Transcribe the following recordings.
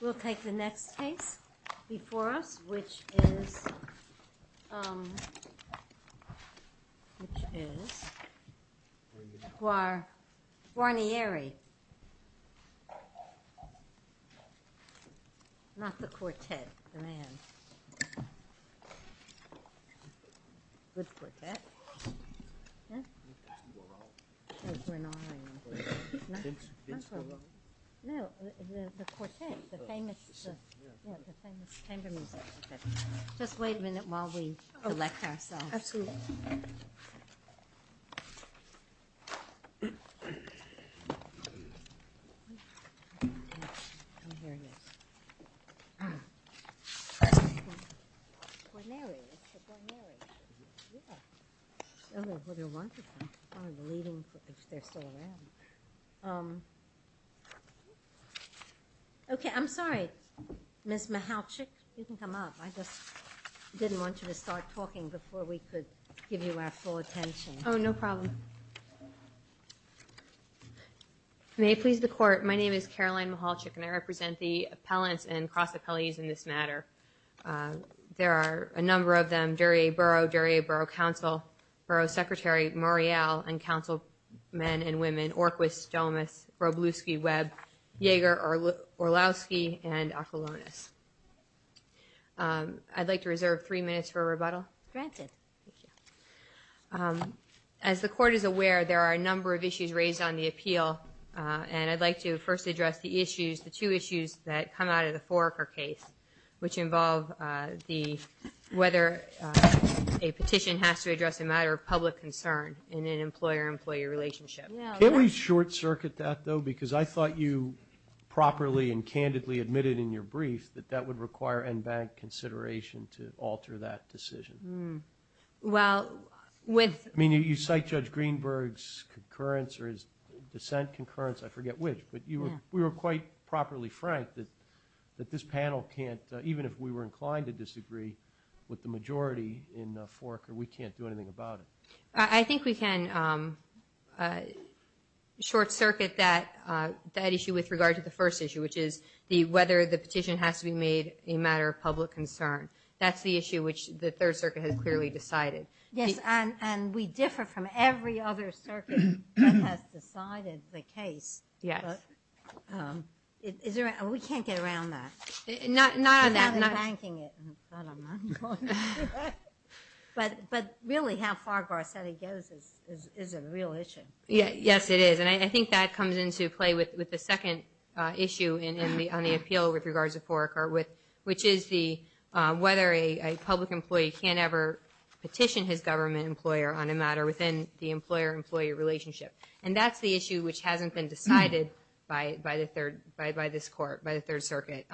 We'll take the next case before us, which is, um, which is, um, Guarnieri. Not the quartet, the man. Good quartet. Just wait a minute while we select ourselves. Okay, I'm sorry, Ms. Michalczyk, you can come up. I just didn't want you to start talking before we could give you our full attention. Oh, no problem. May it please the court, my name is Caroline Michalczyk and I represent the appellants and cross-appellees in this matter. There are a number of them, Duryea Borough, Duryea Borough Council, Borough Secretary Morial, and Councilmen and women, Orquist, Domus, Robluski, Webb, Yeager, Orlowski, and Acolonis. I'd like to reserve three minutes for rebuttal. Granted. As the court is aware, there are a number of issues raised on the appeal, and I'd like to first address the issues, the two issues that come out of the Foraker case, which involve the, whether a petition has to address a matter of public concern in an employer-employee relationship. Can we short circuit that, though? Because I thought you properly and candidly admitted in your brief that that would require NBank consideration to alter that decision. Well, with. I mean, you cite Judge Greenberg's concurrence or his dissent concurrence, I forget which, but we were quite properly frank that this panel can't, even if we were inclined to disagree with the majority in Foraker, we can't do anything about it. I think we can short circuit that issue with regard to the first issue, which is whether the petition has to be made a matter of public concern. That's the issue which the Third Circuit has clearly decided. Yes, and we differ from every other circuit that has decided the case. Yes. We can't get around that. Not on that. Without embanking it. But really how far Garcetti goes is a real issue. Yes, it is. And I think that comes into play with the second issue on the appeal with regards to Foraker, which is whether a public employee can ever petition his government employer on a matter within the employer-employee relationship. And that's the issue which hasn't been decided by this court, by the Third Circuit.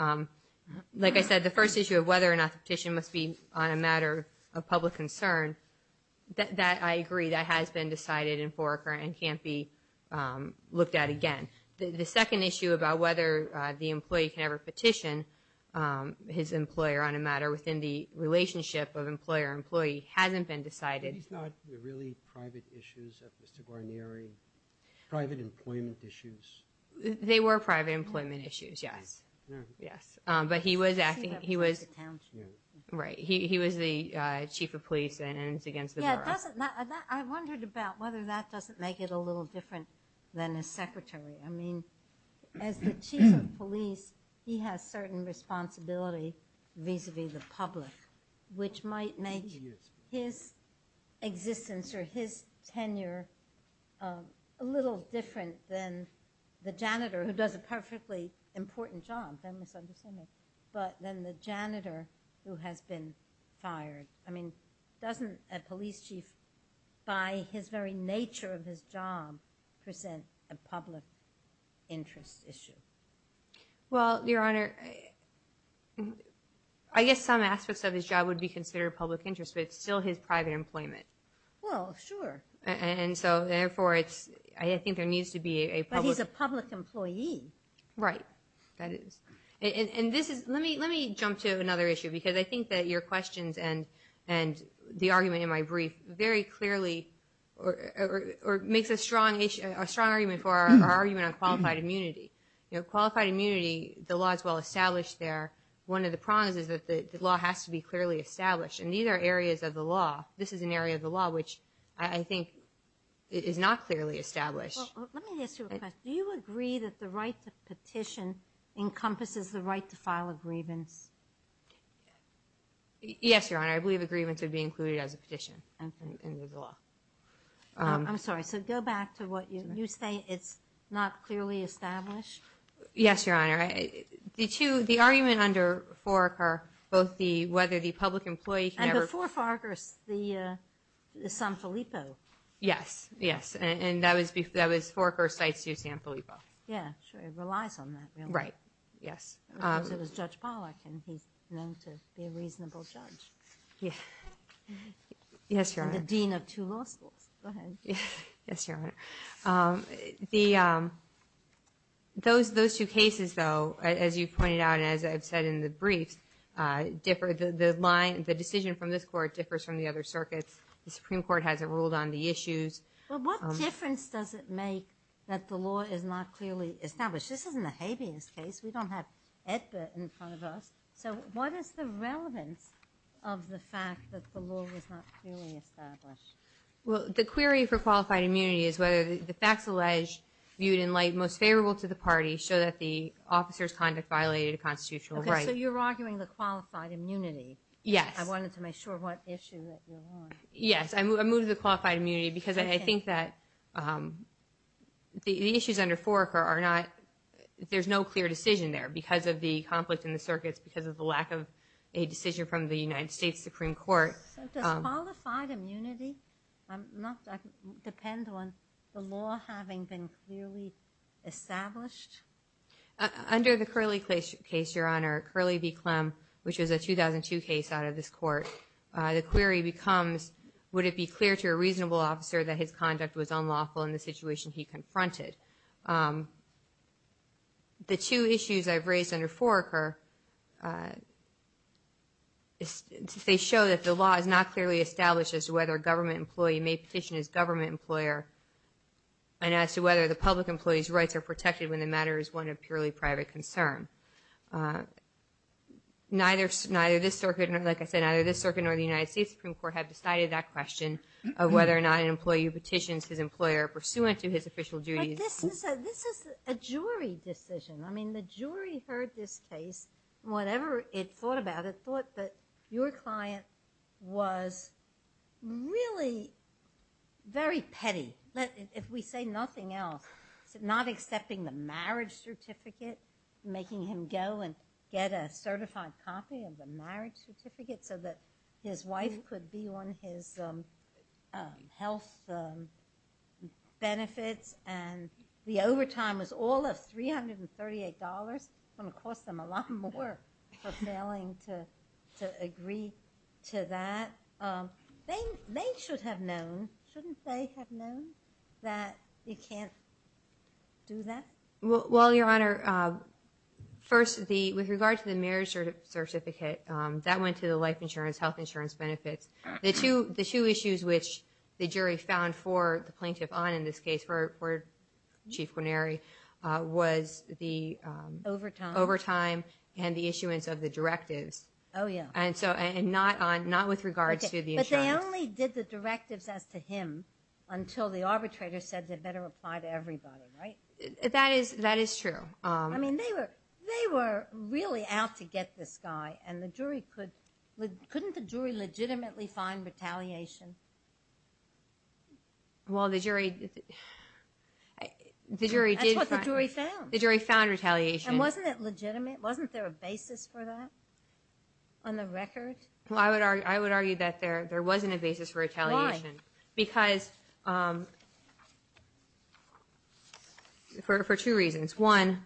Like I said, the first issue of whether or not the petition must be on a matter of public concern, that I agree that has been decided in Foraker and can't be looked at again. The second issue about whether the employee can ever petition his employer on a matter within the relationship of employer-employee hasn't been decided. These are not really private issues of Mr. Guarneri? Private employment issues? They were private employment issues, yes. But he was the chief of police and it's against the law. I wondered about whether that doesn't make it a little different than a secretary. I mean, as the chief of police, he has certain responsibility vis-a-vis the public, which might make his existence or his tenure a little different than the janitor, who does a perfectly important job, but then the janitor who has been fired. I mean, doesn't a police chief, by his very nature of his job, present a public interest issue? Well, Your Honor, I guess some aspects of his job would be considered public interest, but it's still his private employment. Well, sure. And so, therefore, I think there needs to be a public... But he's a public employee. Right, that is. Let me jump to another issue, because I think that your questions and the argument in my brief very clearly makes a strong argument for our argument on qualified immunity. Qualified immunity, the law is well established there. One of the problems is that the law has to be clearly established, and these are areas of the law. This is an area of the law which I think is not clearly established. Well, let me ask you a question. Do you agree that the right to petition encompasses the right to file a grievance? Yes, Your Honor. I believe a grievance would be included as a petition in the law. I'm sorry, so go back to what you're saying. You're saying it's not clearly established? Yes, Your Honor. The argument under Foraker, both the whether the public employee can ever... And before Foraker, the San Filippo. Yes, yes, and that was Foraker cites the San Filippo. Yeah, sure, it relies on that. Right, yes. Because it was Judge Pollack, and he's known to be a reasonable judge. Yes, Your Honor. And the dean of two law schools. Go ahead. Yes, Your Honor. Those two cases, though, as you pointed out and as I've said in the brief, the decision from this Court differs from the other circuits. The Supreme Court hasn't ruled on the issues. Well, what difference does it make that the law is not clearly established? This isn't a habeas case. We don't have EDBA in front of us. So what is the relevance of the fact that the law is not clearly established? Well, the query for qualified immunity is whether the facts alleged, viewed in light most favorable to the party, show that the officer's conduct violated a constitutional right. Okay, so you're arguing the qualified immunity. Yes. And I wanted to make sure what issue that you're on. Yes, I move the qualified immunity because I think that the issues under Foraker are not – there's no clear decision there because of the conflict in the circuits, because of the lack of a decision from the United States Supreme Court. So does qualified immunity depend on the law having been clearly established? Under the Curley case, Your Honor, Curley v. Clem, which is a 2002 case out of this court, the query becomes would it be clear to a reasonable officer that his conduct was unlawful in the situation he confronted? The two issues I've raised under Foraker, they show that the law is not clearly established as to whether a government employee may petition his government employer and as to whether the public employee's rights are protected when the matter is one of purely private concern. Neither this circuit, like I said, neither this circuit nor the United States Supreme Court have decided that question of whether or not an employee who petitions his employer pursuant to his official duties. But this is a jury decision. I mean, the jury heard this case, whatever it thought about it, thought that your client was really very petty. If we say nothing else, not accepting the marriage certificate, making him go and get a certified copy of the marriage certificate so that his wife could be on his health benefits and the overtime was all of $338. It's going to cost them a lot more for failing to agree to that. They should have known. Shouldn't they have known that you can't do that? Well, Your Honor, first, with regard to the marriage certificate, that went to the life insurance, health insurance benefits. The two issues which the jury found for the plaintiff on in this case, for Chief Guarneri, was the overtime and the issuance of the directives. Oh, yeah. And not with regards to the insurance. But they only did the directives as to him until the arbitrator said they better apply to everybody, right? That is true. I mean, they were really out to get this guy, and couldn't the jury legitimately find retaliation? Well, the jury did. That's what the jury found. The jury found retaliation. And wasn't it legitimate? Wasn't there a basis for that on the record? Well, I would argue that there wasn't a basis for retaliation. Why? Because for two reasons. One,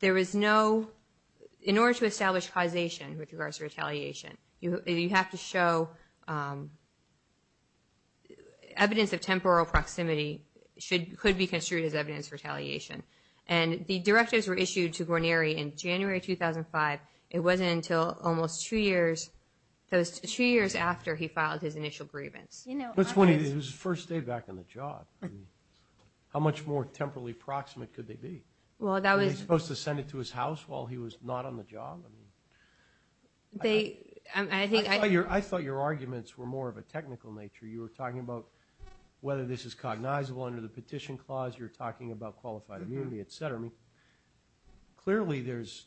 in order to establish causation with regards to retaliation, you have to show evidence of temporal proximity could be construed as evidence of retaliation. And the directives were issued to Guarneri in January 2005. It wasn't until almost two years after he filed his initial grievance. It was his first day back on the job. How much more temporally proximate could they be? Were they supposed to send it to his house while he was not on the job? I thought your arguments were more of a technical nature. You were talking about whether this is cognizable under the petition clause. You're talking about qualified immunity, et cetera. Clearly, there's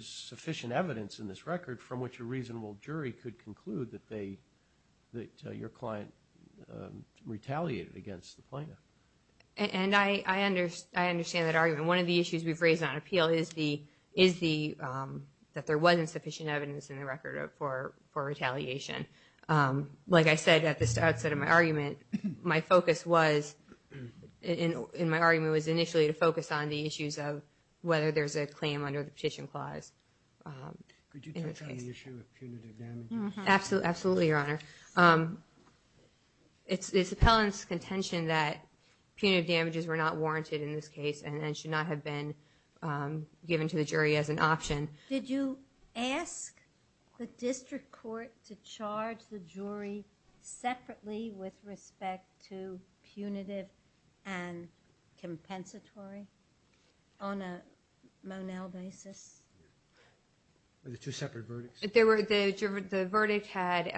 sufficient evidence in this record from which a reasonable jury could conclude that your client retaliated against the plaintiff. And I understand that argument. One of the issues we've raised on appeal is that there wasn't sufficient evidence in the record for retaliation. Like I said at the outset of my argument, my focus was initially to focus on the issues of whether there's a claim under the petition clause. Could you touch on the issue of punitive damages? Absolutely, Your Honor. It's the appellant's contention that punitive damages were not warranted in this case and should not have been given to the jury as an option. Did you ask the district court to charge the jury separately with respect to punitive and compensatory on a Monell basis? There were two separate verdicts. The verdict had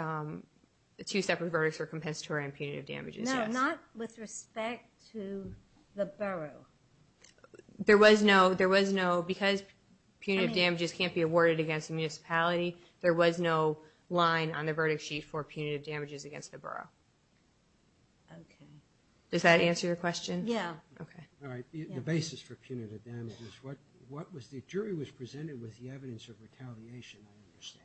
two separate verdicts for compensatory and punitive damages, yes. No, not with respect to the borough. Because punitive damages can't be awarded against a municipality, there was no line on the verdict sheet for punitive damages against the borough. Does that answer your question? Yes. The basis for punitive damages, the jury was presented with the evidence of retaliation, I understand.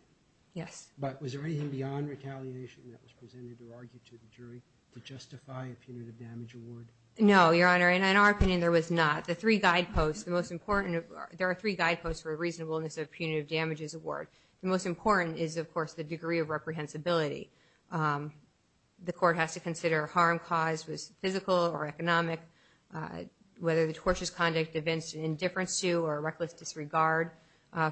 Yes. But was there anything beyond retaliation that was presented or argued to the jury to justify a punitive damage award? No, Your Honor. In our opinion, there was not. The three guideposts, the most important, there are three guideposts for a reasonableness of punitive damages award. The most important is, of course, the degree of reprehensibility. The court has to consider harm caused was physical or economic, whether the tortious conduct evinced indifference to or reckless disregard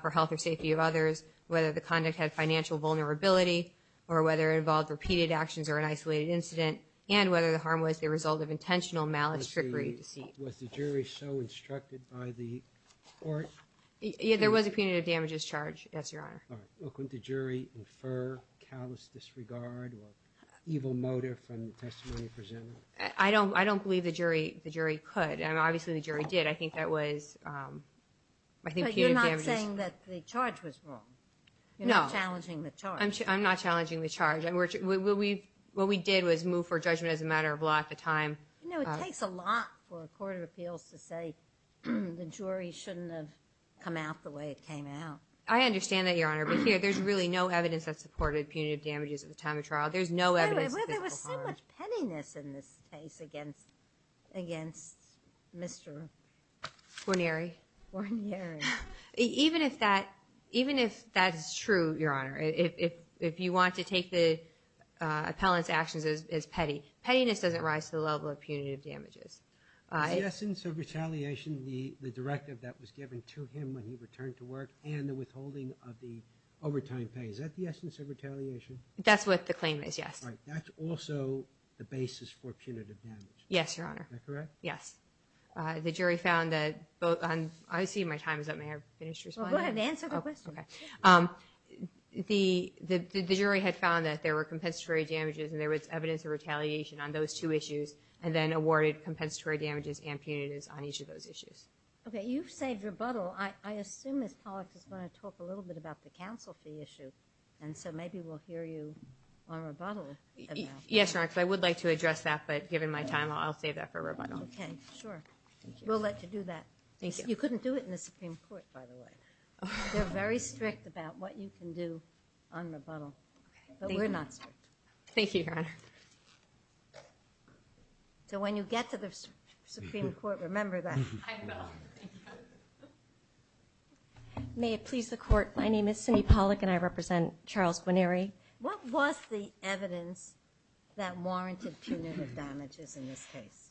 for health or safety of others, whether the conduct had financial vulnerability or whether it involved repeated actions or an isolated incident, and whether the harm was the result of intentional malice, trickery, deceit. Was the jury so instructed by the court? There was a punitive damages charge, yes, Your Honor. All right. Couldn't the jury infer callous disregard or evil motive from the testimony presented? I don't believe the jury could. Obviously, the jury did. I think that was, I think punitive damages. But you're not saying that the charge was wrong. No. You're not challenging the charge. I'm not challenging the charge. What we did was move for judgment as a matter of law at the time. You know, it takes a lot for a court of appeals to say the jury shouldn't have come out the way it came out. I understand that, Your Honor. But here, there's really no evidence that supported punitive damages at the time of trial. There's no evidence of physical harm. There was so much pettiness in this case against Mr. Guarnieri. Guarnieri. Even if that is true, Your Honor, if you want to take the appellant's actions as petty, pettiness doesn't rise to the level of punitive damages. The essence of retaliation, the directive that was given to him when he returned to work and the withholding of the overtime pay, is that the essence of retaliation? That's what the claim is, yes. All right. That's also the basis for punitive damage. Yes, Your Honor. Is that correct? Yes. The jury found that both on... I see my time is up. May I finish responding? Go ahead. Answer the question. Okay. The jury had found that there were compensatory damages and there was evidence of retaliation on those two issues and then awarded compensatory damages and punitives on each of those issues. Okay. You've saved rebuttal. I assume Ms. Pollack is going to talk a little bit about the counsel fee issue. So maybe we'll hear you on rebuttal. Yes, Your Honor. I would like to address that, but given my time, I'll save that for rebuttal. Okay. Sure. We'll let you do that. Thank you. You couldn't do it in the Supreme Court, by the way. They're very strict about what you can do on rebuttal, but we're not strict. Thank you, Your Honor. So when you get to the Supreme Court, remember that. I know. May it please the Court, my name is Cindy Pollack and I represent Charles Guarneri. What was the evidence that warranted punitive damages in this case?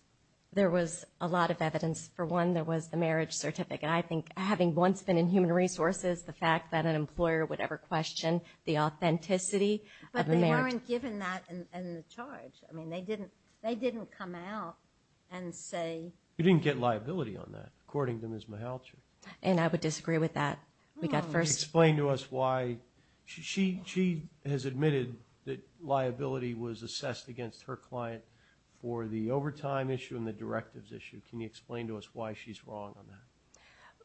There was a lot of evidence. For one, there was the marriage certificate. I think having once been in Human Resources, the fact that an employer would ever question the authenticity of a marriage. But they weren't given that in the charge. I mean, they didn't come out and say... You didn't get liability on that, according to Ms. Mihalcher. And I would disagree with that. Explain to us why... She has admitted that liability was assessed against her client for the overtime issue and the directives issue. Can you explain to us why she's wrong on that?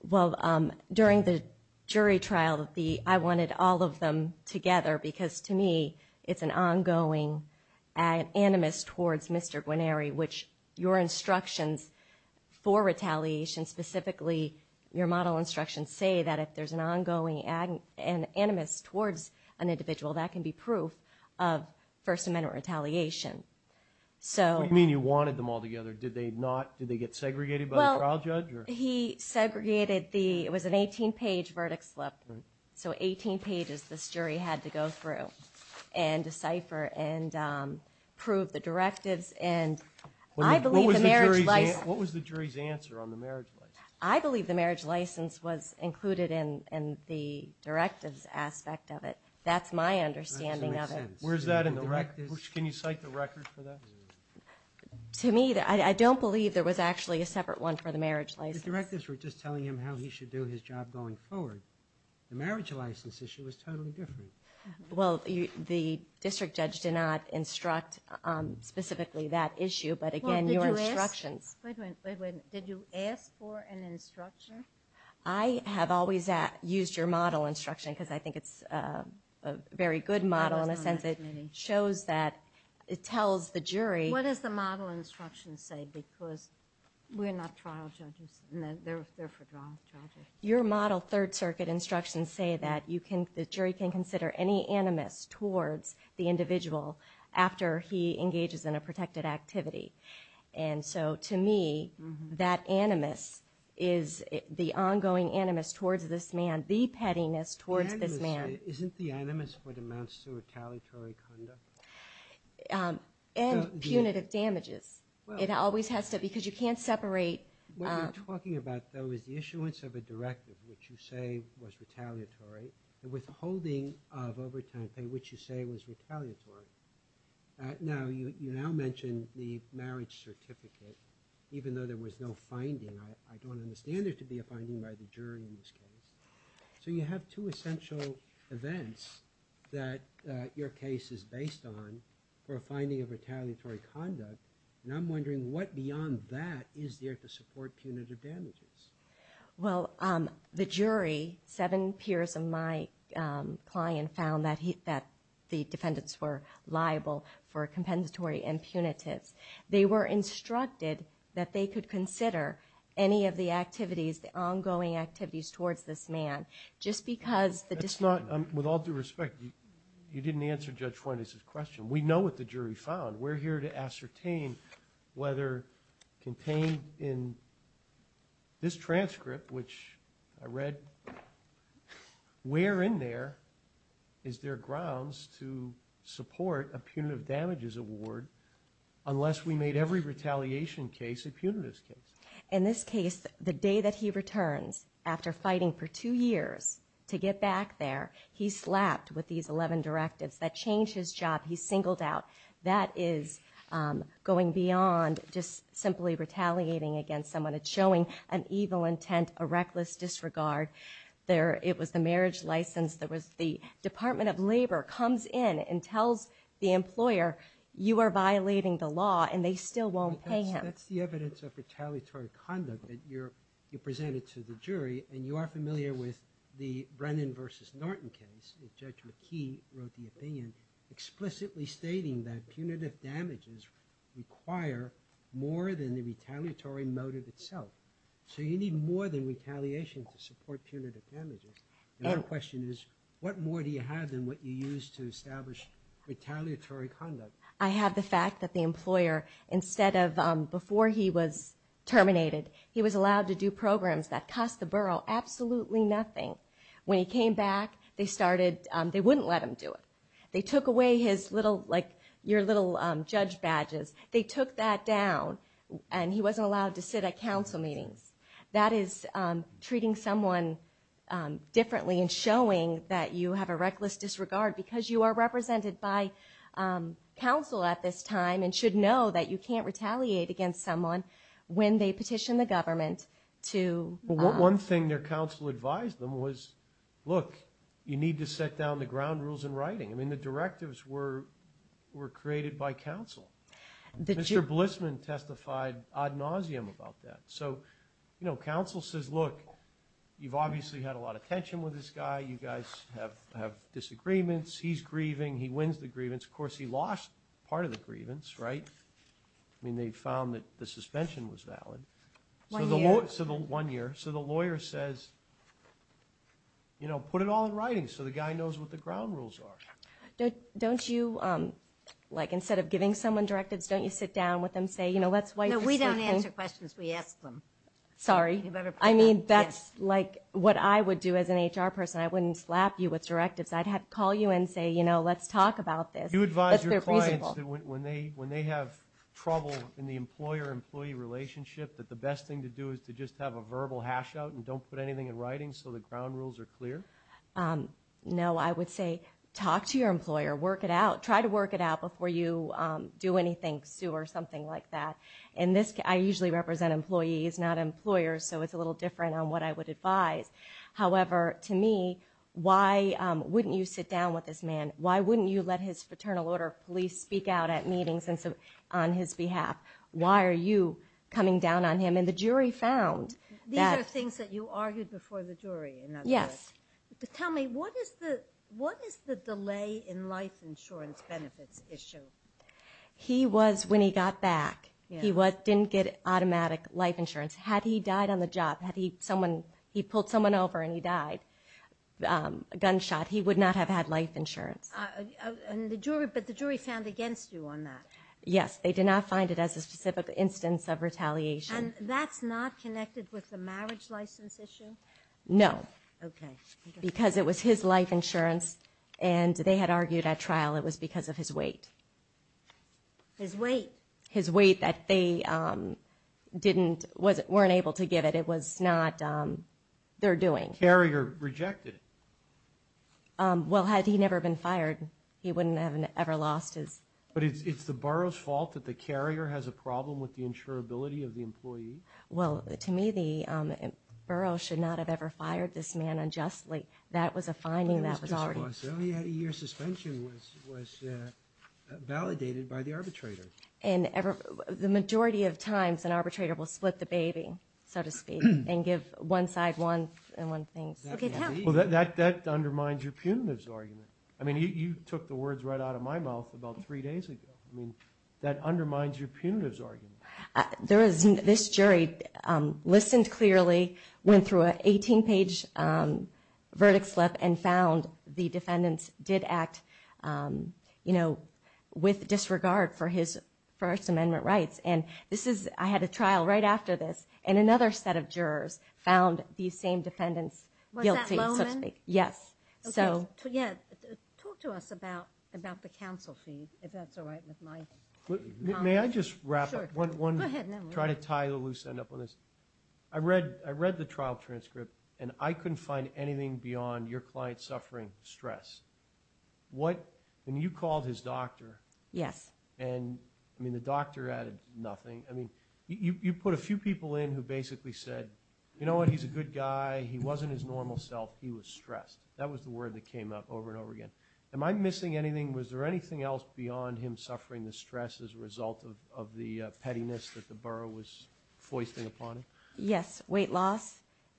Well, during the jury trial, I wanted all of them together because, to me, it's an ongoing animus towards Mr. Guarneri, which your instructions for retaliation, specifically your model instructions, say that if there's an ongoing animus towards an individual, that can be proof of First Amendment retaliation. What do you mean you wanted them all together? Did they get segregated by the trial judge? He segregated the... it was an 18-page verdict slip. So 18 pages this jury had to go through and decipher and prove the directives. What was the jury's answer on the marriage license? I believe the marriage license was included in the directives aspect of it. That's my understanding of it. Where's that in the directives? Can you cite the record for that? To me, I don't believe there was actually a separate one for the marriage license. The directives were just telling him how he should do his job going forward. The marriage license issue was totally different. Well, the district judge did not instruct specifically that issue, but again, your instructions... Wait a minute. Did you ask for an instruction? I have always used your model instruction because I think it's a very good model in the sense that it shows that it tells the jury... What does the model instruction say because we're not trial judges and they're for trial judges? Your model Third Circuit instructions say that the jury can consider any animus towards the individual after he engages in a protected activity. And so to me, that animus is the ongoing animus towards this man, the pettiness towards this man. Isn't the animus what amounts to retaliatory conduct? And punitive damages. It always has to because you can't separate... What you're talking about, though, is the issuance of a directive, which you say was retaliatory, and withholding of overtime pay, which you say was retaliatory. Now, you now mentioned the marriage certificate, even though there was no finding. I don't understand there to be a finding by the jury in this case. So you have two essential events that your case is based on for a finding of retaliatory conduct, and I'm wondering what beyond that is there to support punitive damages. Well, the jury, seven peers of my client, found that the defendants were liable for compensatory impunities. They were instructed that they could consider any of the activities, the ongoing activities towards this man, just because the defendant... That's not, with all due respect, you didn't answer Judge Fuentes' question. We know what the jury found. We're here to ascertain whether contained in this transcript, which I read, where in there is there grounds to support a punitive damages award unless we made every retaliation case a punitive case. In this case, the day that he returns, after fighting for two years to get back there, he's slapped with these 11 directives. That changed his job. He's singled out. That is going beyond just simply retaliating against someone. It's showing an evil intent, a reckless disregard. It was the marriage license. The Department of Labor comes in and tells the employer, you are violating the law, and they still won't pay him. That's the evidence of retaliatory conduct that you presented to the jury, and you are familiar with the Brennan v. Norton case. Judge McKee wrote the opinion explicitly stating that punitive damages require more than the retaliatory motive itself. So you need more than retaliation to support punitive damages. The other question is, what more do you have than what you use to establish retaliatory conduct? I have the fact that the employer, instead of, before he was terminated, he was allowed to do programs that cost the borough absolutely nothing. When he came back, they wouldn't let him do it. They took away your little judge badges. They took that down, and he wasn't allowed to sit at council meetings. That is treating someone differently and showing that you have a reckless disregard because you are represented by council at this time and should know that you can't retaliate against someone when they petition the government to... You need to set down the ground rules in writing. The directives were created by council. Mr. Blissman testified ad nauseum about that. Council says, look, you've obviously had a lot of tension with this guy. You guys have disagreements. He's grieving. He wins the grievance. Of course, he lost part of the grievance. They found that the suspension was valid. One year. So the lawyer says, put it all in writing so the guy knows what the ground rules are. Don't you, instead of giving someone directives, don't you sit down with them and say, let's... No, we don't answer questions. We ask them. Sorry. I mean, that's what I would do as an HR person. I wouldn't slap you with directives. I'd call you and say, let's talk about this. Do you advise your clients that when they have trouble in the employer-employee relationship, that the best thing to do is to just have a verbal hash-out and don't put anything in writing so the ground rules are clear? No, I would say, talk to your employer, work it out. Try to work it out before you do anything, sue or something like that. I usually represent employees, not employers, so it's a little different on what I would advise. However, to me, why wouldn't you sit down with this man? Why wouldn't you let his Fraternal Order of Police speak out at meetings on his behalf? Why are you coming down on him? And the jury found that... These are things that you argued before the jury, in other words. Yes. Tell me, what is the delay in life insurance benefits issue? He was, when he got back, he didn't get automatic life insurance. Had he died on the job, had he pulled someone over and he died, gunshot, he would not have had life insurance. But the jury found against you on that? Yes, they did not find it as a specific instance of retaliation. And that's not connected with the marriage license issue? No. Because it was his life insurance and they had argued at trial it was because of his weight. His weight? His weight that they weren't able to give it. It was not their doing. Carrier rejected it? Well, had he never been fired, he wouldn't have ever lost his... But it's the borough's fault that the carrier has a problem with the insurability of the employee? Well, to me, the borough should not have ever fired this man unjustly. That was a finding that was already... Your suspension was validated by the arbitrator. The majority of times an arbitrator will split the baby, so to speak, and give one side one thing. Well, that undermines your punitive argument. I mean, you took the words right out of my mouth about three days ago. I mean, that undermines your punitive argument. This jury listened clearly, went through an 18-page verdict slip and found the defendants did act with disregard for his First Amendment rights. I had a trial right after this, and another set of jurors found these same defendants guilty, so to speak. Was that Lowman? Talk to us about the counsel feed, if that's all right with my... May I just wrap up? Go ahead. I read the trial transcript, and I couldn't find anything beyond your client suffering stress. When you called his doctor... Yes. I mean, the doctor added nothing. You put a few people in who basically said, you know what, he's a good guy, he wasn't his normal self, he was stressed. That was the word that came up over and over again. Am I missing anything? Was there anything else beyond him suffering the stress as a result of the pettiness that the borough was foisting upon him? Yes, weight loss.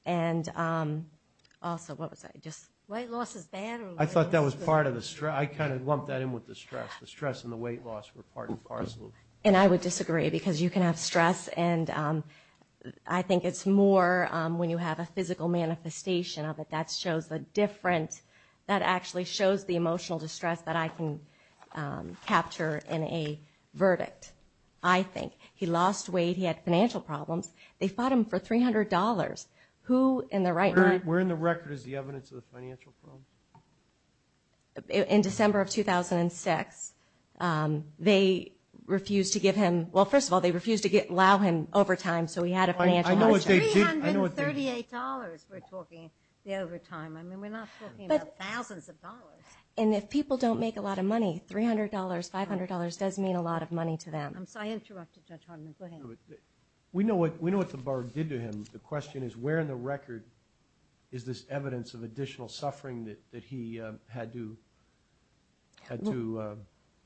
Weight loss is bad? I thought that was part of the stress. I kind of lumped that in with the stress. The stress and the weight loss were part and parcel. And I would disagree, because you can have stress, and I think it's more when you have a physical manifestation of it that actually shows the emotional distress that I can capture in a verdict, I think. He lost weight, he had financial problems. They fought him for $300. Where in the record is the evidence of the financial problems? In December of 2006. They refused to allow him overtime, so he had a financial hardship. $338, we're talking the overtime. I mean, we're not talking about thousands of dollars. And if people don't make a lot of money, $300, $500 does mean a lot of money to them. I interrupted Judge Hartman. Go ahead. We know what the borough did to him. The question is, where in the record is this evidence of additional suffering that he had to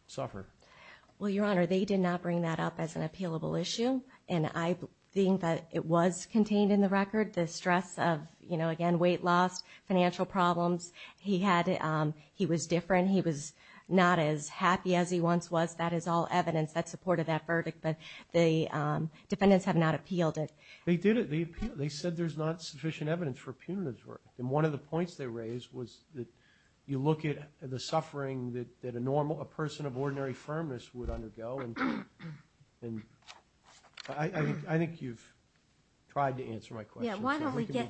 suffer? Well, Your Honor, they did not bring that up as an appealable issue. And I think that it was contained in the record, the stress of, again, weight loss, financial problems. He was different. He was not as happy as he once was. That is all evidence that supported that verdict. But the defendants have not appealed it. They said there's not sufficient evidence for punitive work. And one of the points they raised was that you look at the suffering that a person of ordinary firmness would undergo. I think you've tried to answer my question.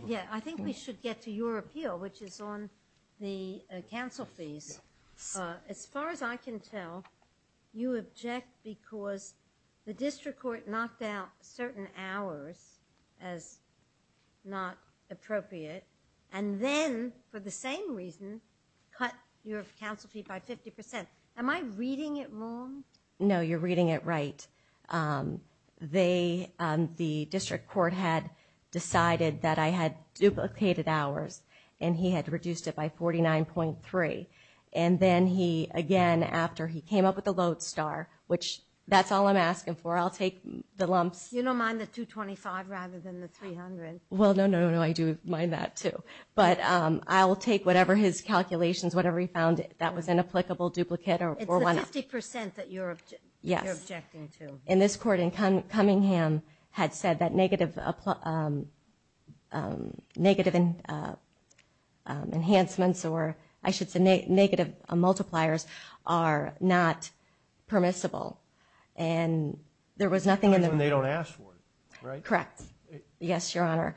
Yeah, I think we should get to your appeal, which is on the counsel fees. As far as I can tell, you object because the district court knocked out certain hours as not appropriate and then, for the same reason, cut your counsel fee by 50%. Am I reading it wrong? No, you're reading it right. The district court had decided that I had duplicated hours and he had reduced it by 49.3. And then he, again, after he came up with the load star, which that's all I'm asking for. I'll take the lumps. You don't mind the 225 rather than the 300? Well, no, no, no, I do mind that, too. But I will take whatever his calculations, whatever he found that was an applicable duplicate. It's the 50% that you're objecting to. And this court in Cunningham had said that negative enhancements or I should say negative multipliers are not permissible. That's when they don't ask for it, right? Correct. Yes, Your Honor.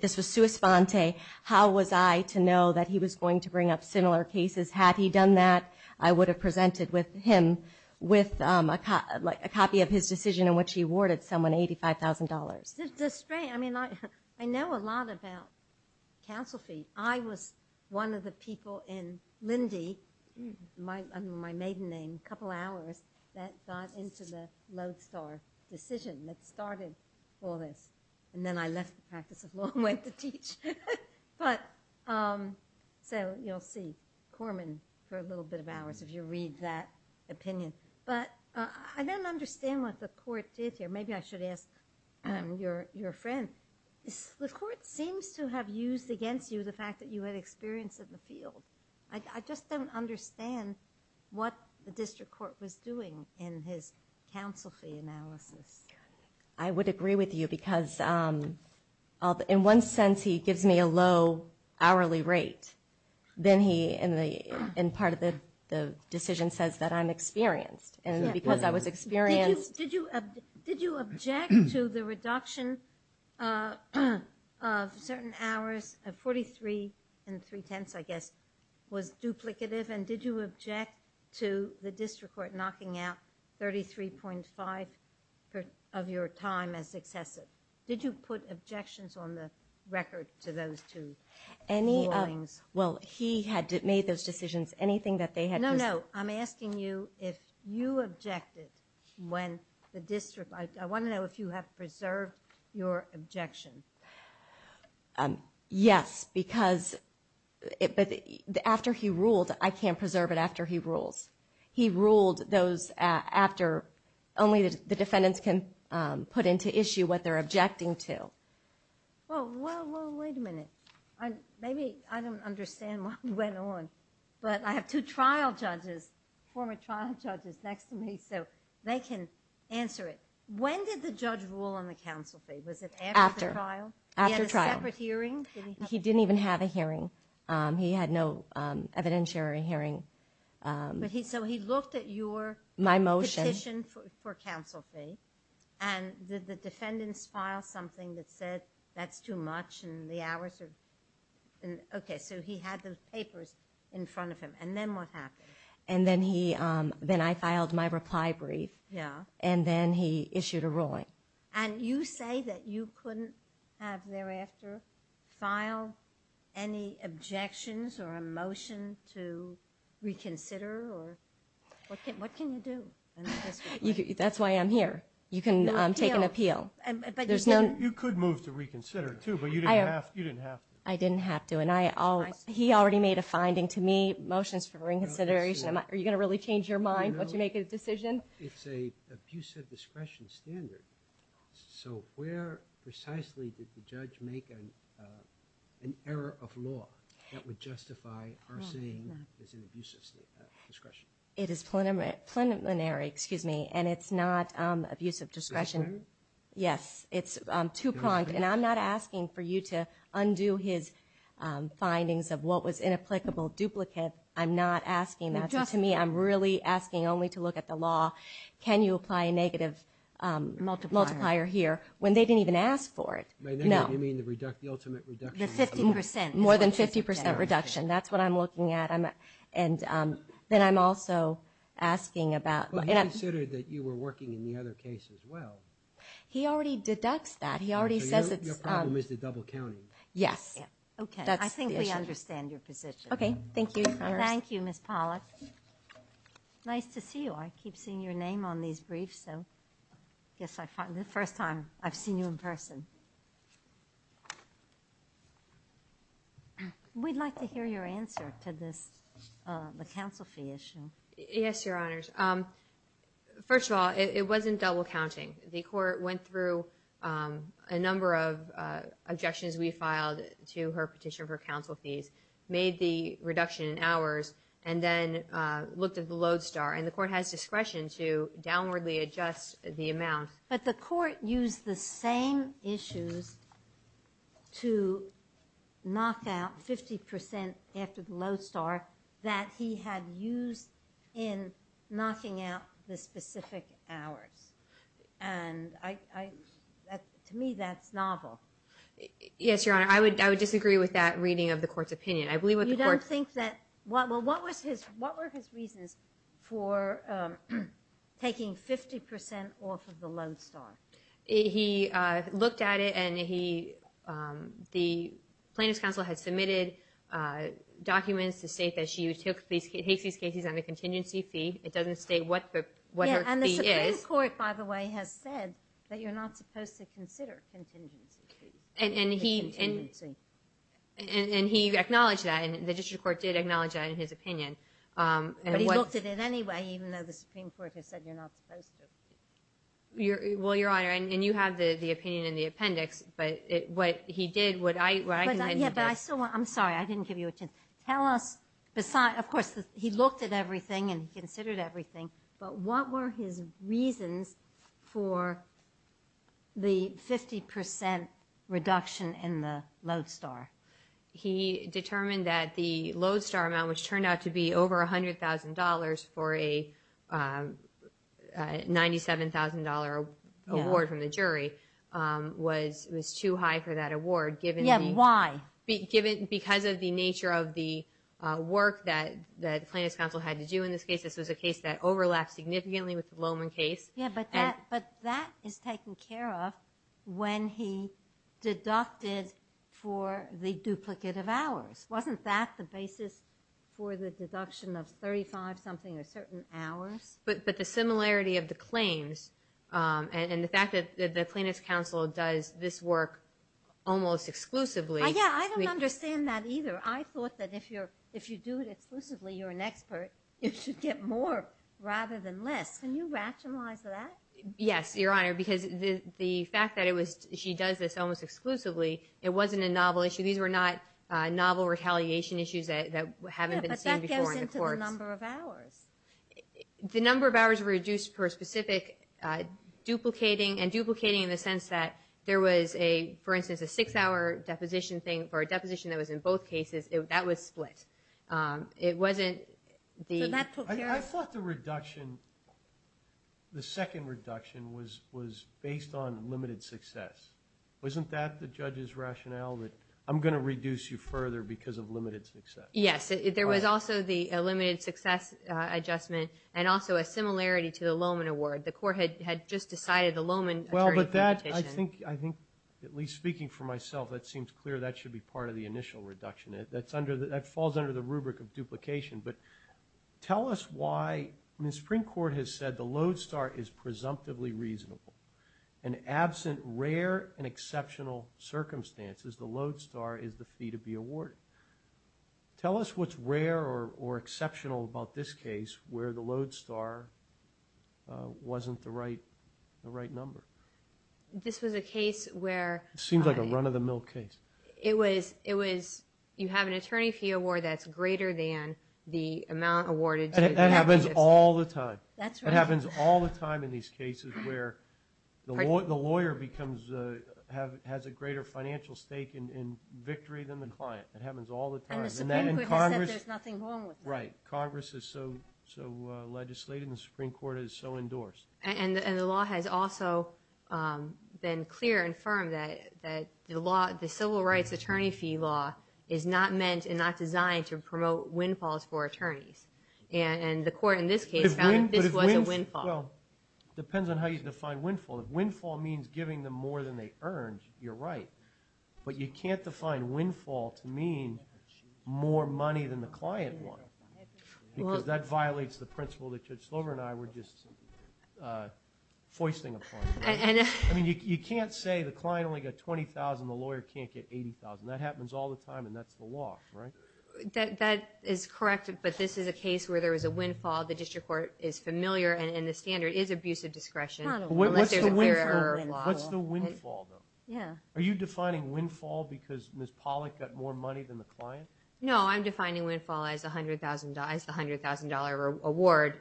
This was sua sponte. How was I to know that he was going to bring up similar cases? Had he done that, I would have presented him with a copy of his decision in which he awarded someone $85,000. I know a lot about counsel fee. I was one of the people in Lindy, my maiden name, a couple hours, that got into the load star decision that started all this. And then I left the practice of law and went to teach. So you'll see. Thank you, Mr. Korman, for a little bit of hours if you read that opinion. But I don't understand what the court did here. Maybe I should ask your friend. The court seems to have used against you the fact that you had experience in the field. I just don't understand what the district court was doing in his counsel fee analysis. I would agree with you because in one sense he gives me a low hourly rate. Then he, in part of the decision, says that I'm experienced. And because I was experienced... Did you object to the reduction of certain hours? 43 and 3 tenths, I guess, was duplicative. And did you object to the district court knocking out 33.5 of your time as successive? Did you put objections on the record to those two rulings? Well, he had made those decisions. No, no. I'm asking you if you objected when the district... I want to know if you have preserved your objection. Yes, because... After he ruled, I can't preserve it after he rules. He ruled those after... put into issue what they're objecting to. Well, wait a minute. Maybe I don't understand what went on. But I have two trial judges, former trial judges, next to me so they can answer it. When did the judge rule on the counsel fee? Was it after the trial? He didn't even have a hearing. He had no evidentiary hearing. So he looked at your petition for counsel fee and did the defendants file something that said that's too much and the hours are... Okay, so he had those papers in front of him. And then what happened? Then I filed my reply brief. And then he issued a ruling. filed any objections or a motion to reconsider or... What can you do? That's why I'm here. You can take an appeal. You could move to reconsider too, but you didn't have to. I didn't have to. He already made a finding to me, motions for reconsideration. Are you going to really change your mind once you make a decision? It's an abusive discretion standard. So where precisely did the judge make an error of law that would justify arson as an abusive discretion? It is preliminary. And it's not abusive discretion. Yes, it's too pronged. And I'm not asking for you to undo his findings of what was inapplicable duplicate. I'm not asking that. To me, I'm really asking only to look at the law. Can you apply a negative multiplier here? When they didn't even ask for it. More than 50% reduction. That's what I'm looking at. Then I'm also asking about... He considered that you were working in the other case as well. He already deducts that. Your problem is the double counting. I think we understand your position. Thank you, Ms. Pollack. Nice to see you. I keep seeing your name on these briefs. I guess it's the first time I've seen you in person. We'd like to hear your answer to this. The counsel fee issue. Yes, Your Honors. First of all, it wasn't double counting. The court went through a number of objections we filed to her petition for counsel fees. Made the reduction in hours. Then looked at the Lodestar. The court has discretion to downwardly adjust the amount. The court used the same issues to knock out 50% after the Lodestar that he had used in knocking out the specific hours. To me, that's novel. Yes, Your Honor. I would disagree with that reading of the court's opinion. What were his reasons for taking 50% off of the Lodestar? He looked at it and the plaintiff's counsel had submitted documents to state that she took these cases on a contingency fee. It doesn't state what her fee is. The Supreme Court, by the way, has said that you're not supposed to consider contingency fees. He acknowledged that. The district court did acknowledge that in his opinion. He looked at it anyway, even though the Supreme Court has said you're not supposed to. You have the opinion in the appendix. I'm sorry, I didn't give you a chance. Of course, he looked at everything and considered everything, but what were his reasons for the 50% reduction in the Lodestar? He determined that the Lodestar amount, which turned out to be over $100,000 for a $97,000 award from the jury, was too high for that award. Why? Because of the nature of the work that the plaintiff's counsel had to do in this case. This was a case that overlapped significantly with the Lowman case. But that is taken care of when he deducted for the duplicate of hours. Wasn't that the basis for the deduction of 35-something or certain hours? But the similarity of the claims and the fact that the plaintiff's counsel does this work almost exclusively... You're an expert. It should get more rather than less. Can you rationalize that? Yes, Your Honor, because the fact that she does this almost exclusively, it wasn't a novel issue. These were not novel retaliation issues that haven't been seen before in the courts. But that goes into the number of hours. The number of hours reduced for a specific duplicating and duplicating in the sense that there was, for instance, a 6-hour deposition thing for a deposition that was in both cases. That was split. So that took care of... I thought the second reduction was based on limited success. Wasn't that the judge's rationale that I'm going to reduce you further because of limited success? Yes, there was also the limited success adjustment and also a similarity to the Lowman award. The court had just decided the Lowman attorney... I think, at least speaking for myself, that seems clear that should be part of the initial reduction. That falls under the rubric of duplication. But tell us why... The Supreme Court has said the Lodestar is presumptively reasonable and absent rare and exceptional circumstances, the Lodestar is the fee to be awarded. Tell us what's rare or exceptional about this case where the Lodestar wasn't the right number. This was a case where... It seems like a run-of-the-mill case. You have an attorney fee award that's greater than the amount awarded... That happens all the time. That happens all the time in these cases where the lawyer has a greater financial stake in victory than the client. That happens all the time. And the Supreme Court has said there's nothing wrong with that. Congress is so legislated and the Supreme Court is so endorsed. And the law has also been clear and firm that the civil rights attorney fee law is not meant and not designed to promote windfalls for attorneys. And the court in this case found that this was a windfall. Depends on how you define windfall. If windfall means giving them more than they earned, you're right. But you can't define windfall to mean more money than the client won. Because that violates the principle that Judge Slover and I were just foisting upon. You can't say the client only got $20,000 and the lawyer can't get $80,000. That happens all the time and that's the law. That is correct, but this is a case where there was a windfall. The district court is familiar and the standard is abusive discretion. What's the windfall? Are you defining windfall because Ms. Pollack got more money than the client? No, I'm defining windfall as the $100,000 award.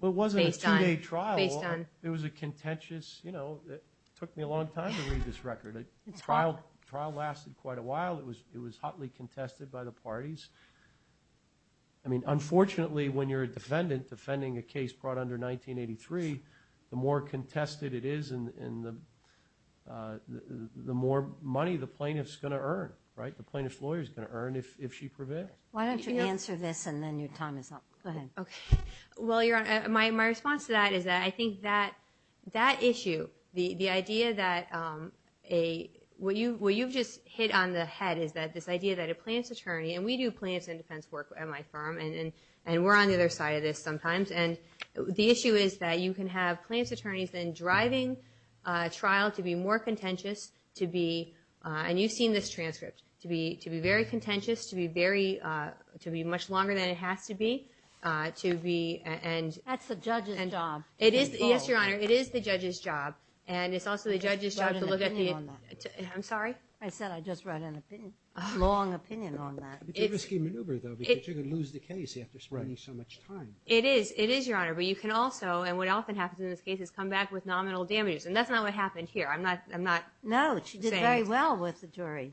But it wasn't a two-day trial. It was a contentious, it took me a long time to read this record. The trial lasted quite a while. It was hotly contested by the parties. Unfortunately, when you're a defendant defending a case brought under 1983, the more contested it is the more money the plaintiff is going to earn. The plaintiff's lawyer is going to earn if she prevails. Why don't you answer this and then your time is up. My response to that is that I think that issue, the idea that what you've just hit on the head is that this idea that a plaintiff's attorney, and we do plaintiff's defense work at my firm, and we're on the other side of this sometimes. The issue is that you can have plaintiff's attorneys then driving a trial to be more contentious to be, and you've seen this transcript, to be very contentious, to be much longer than it has to be. That's the judge's job. Yes, Your Honor, it is the judge's job. I just wrote an opinion on that. It's a risky maneuver, though, because you could lose the case after spending so much time. It is, Your Honor, but you can also, and what often happens in this case, is come back with nominal damages. That's not what happened here. I'm not saying... No, she did very well with the jury.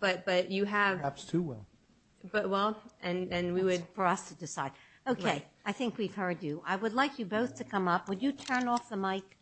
Perhaps too well. For us to decide. Okay, I think we've heard you. I would like you both to come up. Would you turn off the mic?